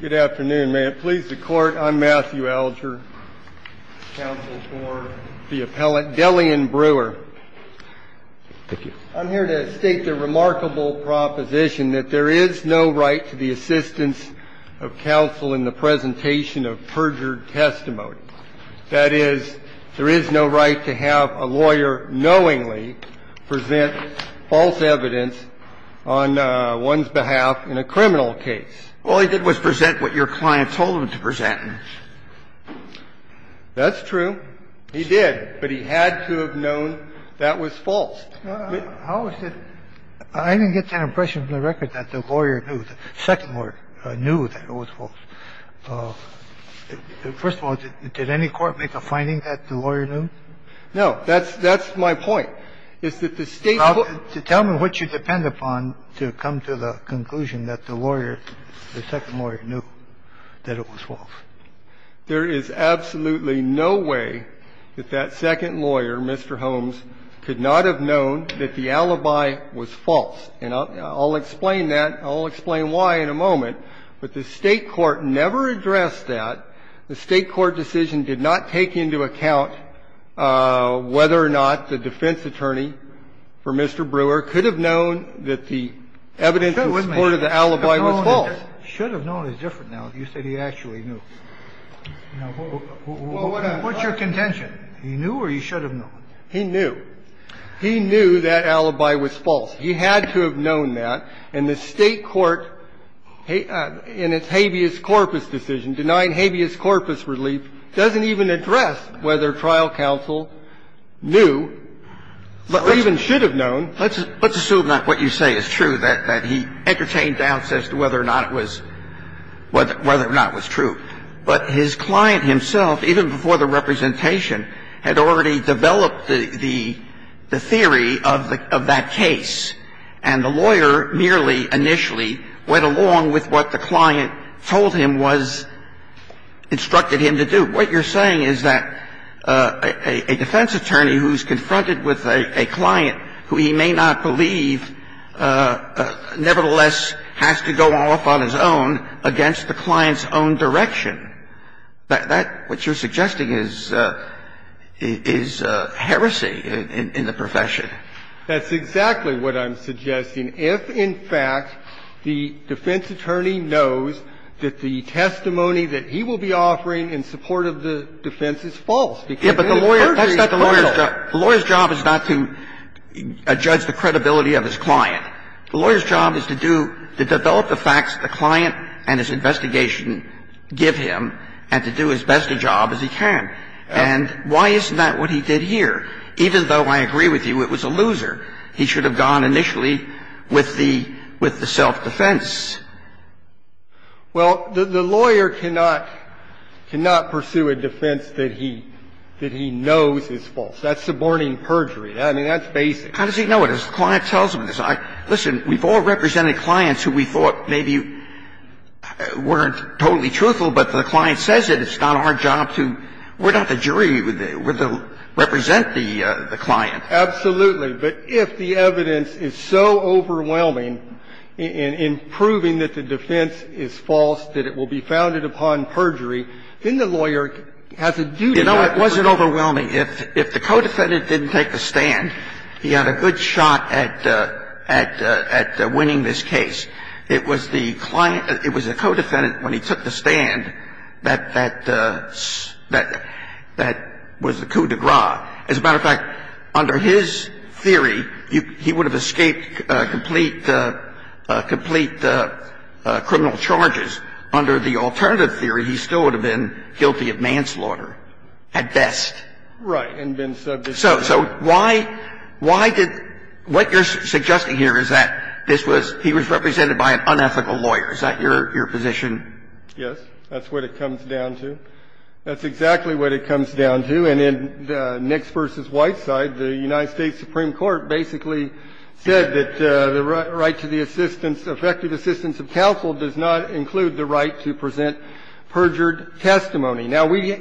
Good afternoon. May it please the Court, I'm Matthew Alger, counsel for the appellant Delian Brewer. Thank you. I'm here to state the remarkable proposition that there is no right to the assistance of counsel in the presentation of perjured testimony. That is, there is no right to have a lawyer knowingly present false evidence on one's behalf in a criminal case. All he did was present what your client told him to present. That's true. He did. But he had to have known that was false. How is it? I didn't get that impression from the record that the lawyer knew, the second lawyer knew that it was false. First of all, did any court make a finding that the lawyer knew? No. That's my point. It's that the State court to tell me what you depend upon to come to the conclusion that the lawyer, the second lawyer, knew that it was false. There is absolutely no way that that second lawyer, Mr. Holmes, could not have known that the alibi was false. And I'll explain that. I'll explain why in a moment. But the State court never addressed that. The State court decision did not take into account whether or not the defense attorney for Mr. Brewer could have known that the evidence in support of the alibi was false. Should have known is different now. You said he actually knew. What's your contention? He knew or he should have known? He knew. He knew that alibi was false. He had to have known that. And the State court, in its habeas corpus decision, denying habeas corpus relief, doesn't even address whether trial counsel knew or even should have known. Let's assume that what you say is true, that he entertained doubts as to whether or not it was true. But his client himself, even before the representation, had already developed the theory of that case. And the lawyer merely initially went along with what the client told him was instructed him to do. What you're saying is that a defense attorney who's confronted with a client who he may not believe nevertheless has to go off on his own against the client's own direction. That what you're suggesting is heresy in the profession. That's exactly what I'm suggesting. If, in fact, the defense attorney knows that the testimony that he will be offering in support of the defense is false, he can't do any perjury. That's not the lawyer's job. The lawyer's job is not to judge the credibility of his client. The lawyer's job is to do to develop the facts the client and his investigation give him and to do as best a job as he can. And why isn't that what he did here? Even though I agree with you, it was a loser. He should have gone initially with the self-defense. Well, the lawyer cannot pursue a defense that he knows is false. That's suborning perjury. I mean, that's basic. How does he know it? Because the client tells him this. Listen, we've all represented clients who we thought maybe weren't totally truthful, but the client says it. It's not our job to – we're not the jury. We're the – represent the client. Absolutely. But if the evidence is so overwhelming in proving that the defense is false that it will be founded upon perjury, then the lawyer has a duty to prove it. You know, it wasn't overwhelming. If the co-defendant didn't take the stand, he had a good shot at winning this case. It was the client – it was the co-defendant, when he took the stand, that – that was the coup de grace. As a matter of fact, under his theory, he would have escaped complete – complete criminal charges. Under the alternative theory, he still would have been guilty of manslaughter at best. Right. And been subject to it. So – so why – why did – what you're suggesting here is that this was – he was represented by an unethical lawyer. Is that your – your position? Yes. That's what it comes down to. That's exactly what it comes down to. And in the Nix v. White side, the United States Supreme Court basically said that the right to the assistance, effective assistance of counsel, does not include the right to present perjured testimony. Now, we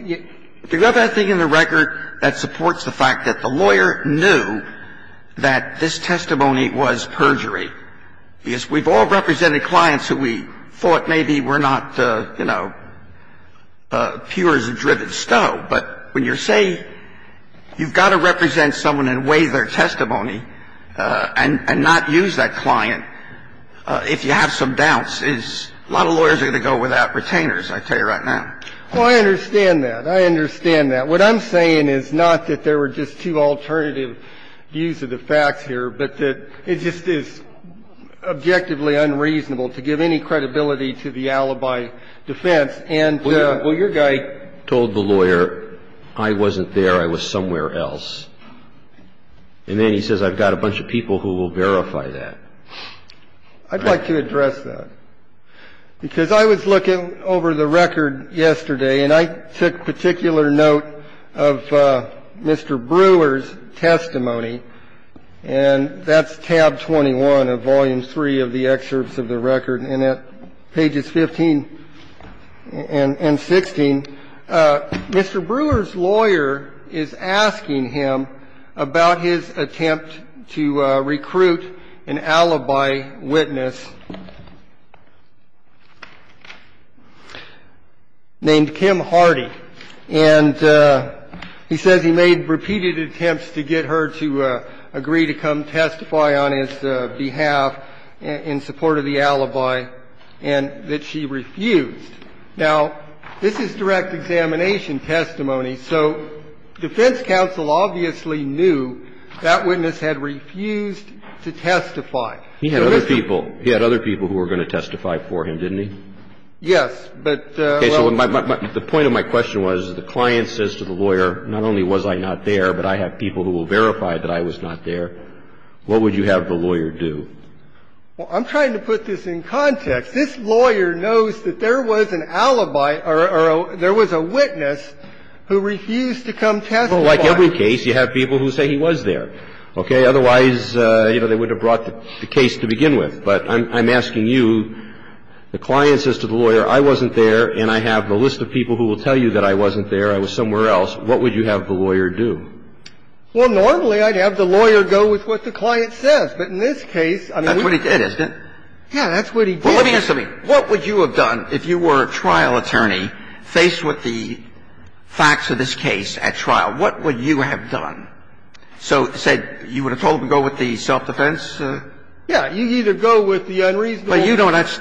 – you've got that thing in the record that supports the fact that the lawyer knew that this testimony was perjury, because we've all represented clients who we thought maybe were not, you know, pure as a driven stow. But when you're saying you've got to represent someone and weigh their testimony and – and not use that client, if you have some doubts, is – a lot of lawyers are going to go without retainers, I tell you right now. Well, I understand that. I understand that. What I'm saying is not that there were just two alternative views of the facts here, but that it just is objectively unreasonable to give any credibility to the alibi defense and the – Well, your guy told the lawyer, I wasn't there, I was somewhere else. And then he says, I've got a bunch of people who will verify that. I'd like to address that, because I was looking over the record yesterday, and I took particular note of Mr. Brewer's testimony, and that's tab 21 of volume 3 of the excerpts of the record, and at pages 15 and 16, Mr. Brewer's lawyer is asking about his attempt to recruit an alibi witness named Kim Hardy. And he says he made repeated attempts to get her to agree to come testify on his behalf in support of the alibi, and that she refused. Now, this is direct examination testimony. So defense counsel obviously knew that witness had refused to testify. He had other people. He had other people who were going to testify for him, didn't he? Yes, but – Okay. So the point of my question was, the client says to the lawyer, not only was I not there, but I have people who will verify that I was not there. What would you have the lawyer do? Well, I'm trying to put this in context. This lawyer knows that there was an alibi or there was a witness who refused to come testify. Well, like every case, you have people who say he was there. Okay? Otherwise, you know, they wouldn't have brought the case to begin with. But I'm asking you, the client says to the lawyer, I wasn't there, and I have a list of people who will tell you that I wasn't there, I was somewhere else. What would you have the lawyer do? Well, normally, I'd have the lawyer go with what the client says. But in this case, I mean – That's what he did, isn't it? Yeah, that's what he did. Well, let me ask you something. What would you have done if you were a trial attorney faced with the facts of this case at trial? What would you have done? So, say, you would have told him to go with the self-defense? Yeah. You either go with the unreasonable – But you know that's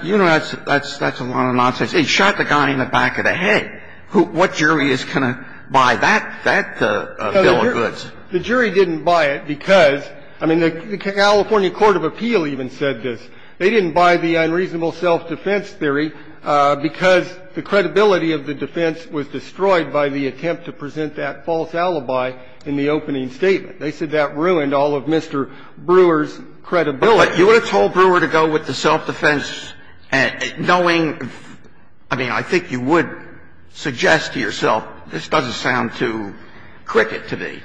a lot of nonsense. He shot the guy in the back of the head. What jury is going to buy that bill of goods? The jury didn't buy it because, I mean, the California Court of Appeal even said this. They didn't buy the unreasonable self-defense theory because the credibility of the defense was destroyed by the attempt to present that false alibi in the opening statement. They said that ruined all of Mr. Brewer's credibility. You would have told Brewer to go with the self-defense knowing – I mean, I think you would suggest to yourself, this doesn't sound too cricket to me.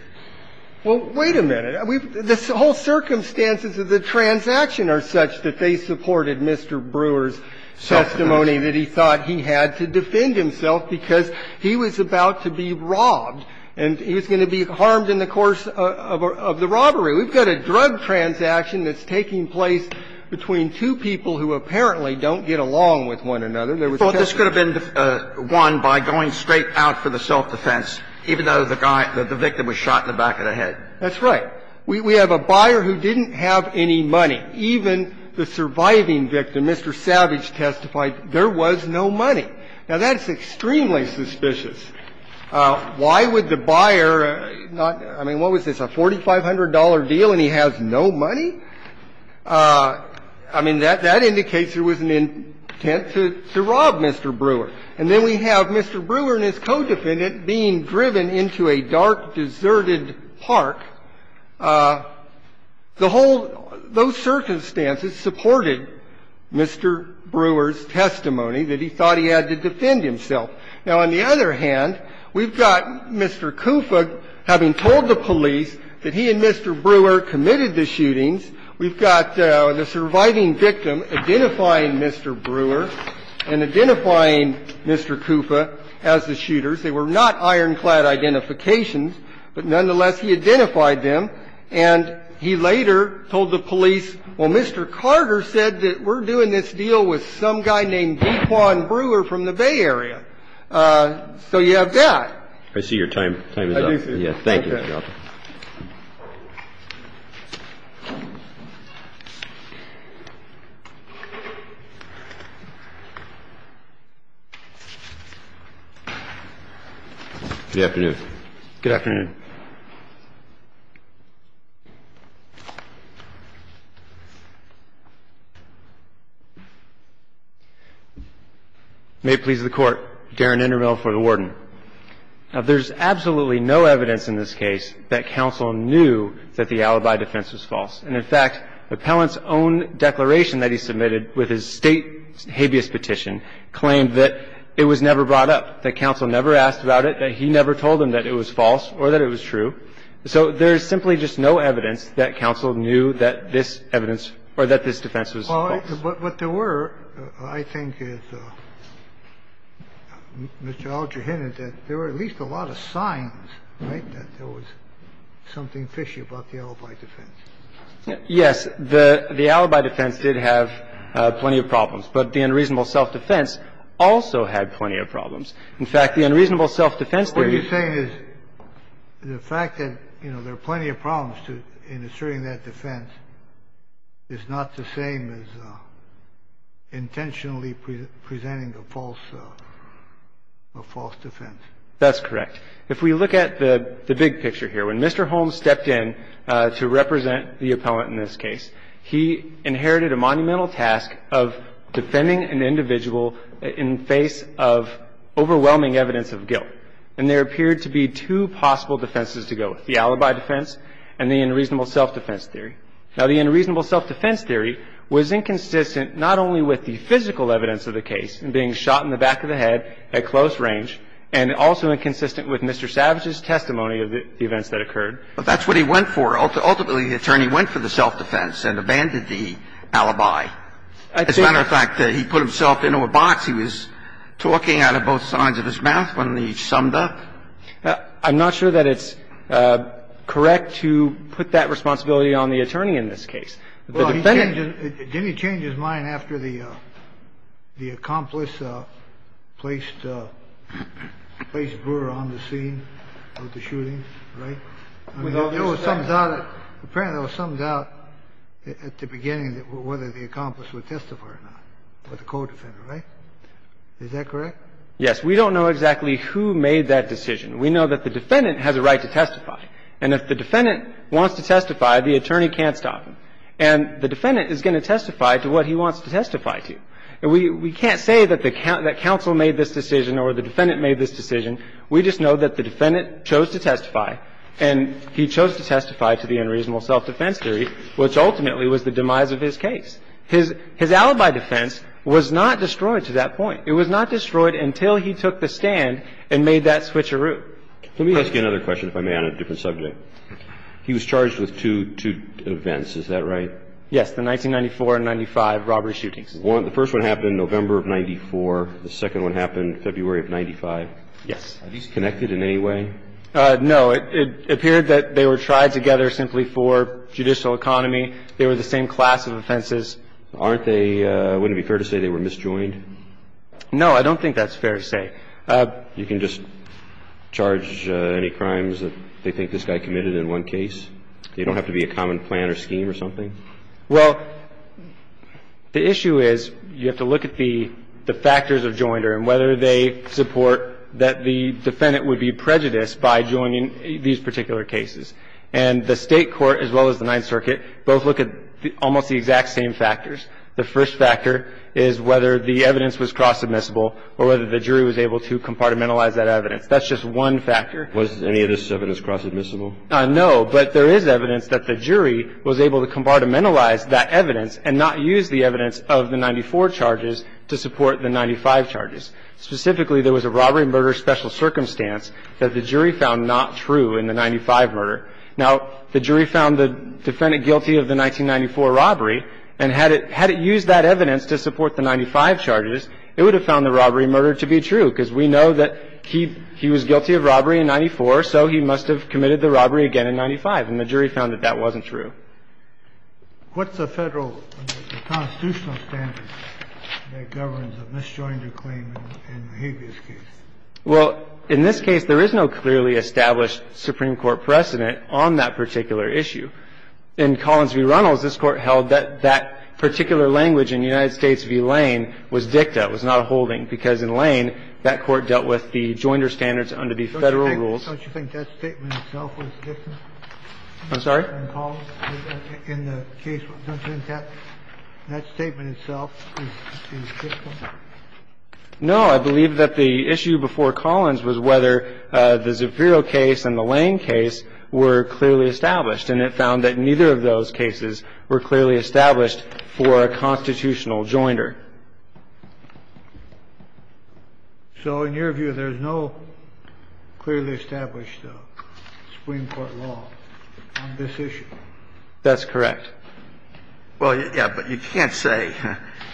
Well, wait a minute. The whole circumstances of the transaction are such that they supported Mr. Brewer's testimony that he thought he had to defend himself because he was about to be robbed and he was going to be harmed in the course of the robbery. We've got a drug transaction that's taking place between two people who apparently don't get along with one another. There was a testimony. But this could have been won by going straight out for the self-defense, even though the guy – the victim was shot in the back of the head. That's right. We have a buyer who didn't have any money. Even the surviving victim, Mr. Savage, testified there was no money. Now, that's extremely suspicious. Why would the buyer not – I mean, what was this, a $4,500 deal and he has no money? I mean, that indicates there was an intent to rob Mr. Brewer. And then we have Mr. Brewer and his co-defendant being driven into a dark, deserted park. The whole – those circumstances supported Mr. Brewer's testimony that he thought he had to defend himself. Now, on the other hand, we've got Mr. Kufa having told the police that he and Mr. Brewer committed the shootings. We've got the surviving victim identifying Mr. Brewer and identifying Mr. Kufa as the shooters. They were not ironclad identifications. But nonetheless, he identified them. And he later told the police, well, Mr. Carter said that we're doing this deal with some guy named D'Quan Brewer from the Bay Area. So you have that. I see your time is up. I do see it. Okay. Thank you, Your Honor. Good afternoon. Good afternoon. May it please the Court. Darren Indermill for the Warden. Or are you just saying that the defense is false? There's absolutely no evidence in this case that counsel knew that the alibi defense was false. And in fact, the appellant's own declaration that he submitted with his State habeas petition claimed that it was never brought up, that counsel never asked about it, that he never told him that it was false or that it was true. So there's simply just no evidence that counsel knew that this evidence or that this defense was false. Well, what there were, I think, is, Mr. Alger hinted that there were at least a lot of signs, right, that there was something fishy about the alibi defense. Yes. The alibi defense did have plenty of problems. But the unreasonable self-defense also had plenty of problems. In fact, the unreasonable self-defense there used to be. What you're saying is the fact that, you know, there are plenty of problems in asserting that defense is not the same as intentionally presenting a false defense. That's correct. If we look at the big picture here, when Mr. Holmes stepped in to represent the appellant in this case, he inherited a monumental task of defending an individual in face of overwhelming evidence of guilt. And there appeared to be two possible defenses to go with, the alibi defense and the unreasonable self-defense theory. Now, the unreasonable self-defense theory was inconsistent not only with the physical evidence of the case and being shot in the back of the head at close range and also inconsistent with Mr. Savage's testimony of the events that occurred. But that's what he went for. Ultimately, the attorney went for the self-defense and abandoned the alibi. As a matter of fact, he put himself into a box. He was talking out of both sides of his mouth when he summed up. I'm not sure that it's correct to put that responsibility on the attorney in this case. Well, didn't he change his mind after the accomplice placed Brewer on the scene of the shooting? Right? You know, it sums out at the beginning whether the accomplice would testify or not, but the co-defendant, right? Is that correct? Yes. We don't know exactly who made that decision. We know that the defendant has a right to testify. And if the defendant wants to testify, the attorney can't stop him. And the defendant is going to testify to what he wants to testify to. And we can't say that the counsel made this decision or the defendant made this decision. We just know that the defendant chose to testify, and he chose to testify to the unreasonable self-defense theory, which ultimately was the demise of his case. And we know that the defendant has a right to testify, and he chose to testify to the unreasonable self-defense theory, which ultimately was the demise of his case. His alibi defense was not destroyed to that point. It was not destroyed until he took the stand and made that switcheroo. Let me ask you another question, if I may, on a different subject. He was charged with two events. Is that right? Yes. The 1994 and 1995 robbery shootings. The first one happened November of 94. The second one happened February of 95. Yes. Are these connected in any way? No. It appeared that they were tried together simply for judicial economy. They were the same class of offenses. Aren't they – wouldn't it be fair to say they were misjoined? No. I don't think that's fair to say. You can just charge any crimes that they think this guy committed in one case? They don't have to be a common plan or scheme or something? Well, the issue is you have to look at the factors of joinder and whether they support that the defendant would be prejudiced by joining these particular cases. And the State court as well as the Ninth Circuit both look at almost the exact same factors. The first factor is whether the evidence was cross-admissible or whether the jury was able to compartmentalize that evidence. That's just one factor. Was any of this evidence cross-admissible? No. But there is evidence that the jury was able to compartmentalize that evidence and not use the evidence of the 94 charges to support the 95 charges. Specifically, there was a robbery murder special circumstance that the jury found not true in the 95 murder. Now, the jury found the defendant guilty of the 1994 robbery, and had it used that evidence to support the 95 charges, it would have found the robbery murder to be true because we know that he was guilty of robbery in 94, so he must have committed the robbery again in 95. And the jury found that that wasn't true. What's the Federal constitutional standard that governs a misjoined claim in a habeas case? Well, in this case, there is no clearly established Supreme Court precedent on that particular issue. In Collins v. Reynolds, this Court held that that particular language in United States v. Lane, that Court dealt with the joinder standards under the Federal rules. Don't you think that statement itself was different? I'm sorry? In Collins, in the case? Don't you think that statement itself is different? No. I believe that the issue before Collins was whether the Zapiro case and the Lane case were clearly established, and it found that neither of those cases were clearly established for a constitutional joinder. So in your view, there's no clearly established Supreme Court law on this issue? That's correct. Well, yeah, but you can't say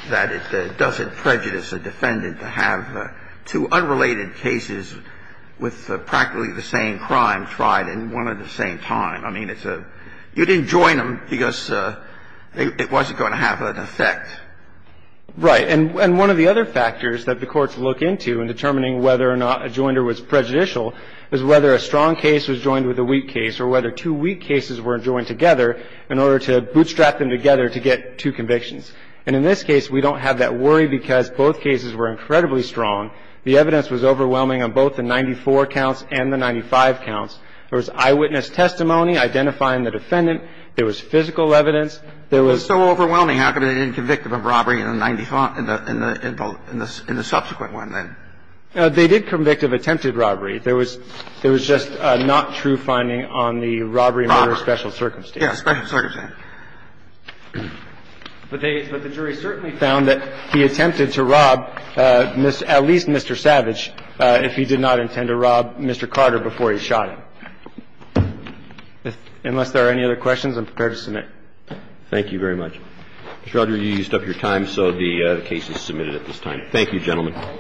that it doesn't prejudice a defendant to have two unrelated cases with practically the same crime tried in one at the same time. I mean, it's a – you didn't join them because it wasn't going to have an effect. Right. And one of the other factors that the courts look into in determining whether or not a joinder was prejudicial is whether a strong case was joined with a weak case or whether two weak cases were joined together in order to bootstrap them together to get two convictions. And in this case, we don't have that worry because both cases were incredibly strong. The evidence was overwhelming on both the 94 counts and the 95 counts. There was eyewitness testimony identifying the defendant. There was physical evidence. It was so overwhelming. How come they didn't convict him of robbery in the 95 – in the subsequent one then? They did convict him of attempted robbery. There was just not true finding on the robbery murder special circumstance. Yeah, special circumstance. But the jury certainly found that he attempted to rob at least Mr. Savage if he did not intend to rob Mr. Carter before he shot him. Unless there are any other questions, I'm prepared to submit. Thank you very much. Mr. Rodger, you used up your time, so the case is submitted at this time. Thank you, gentlemen.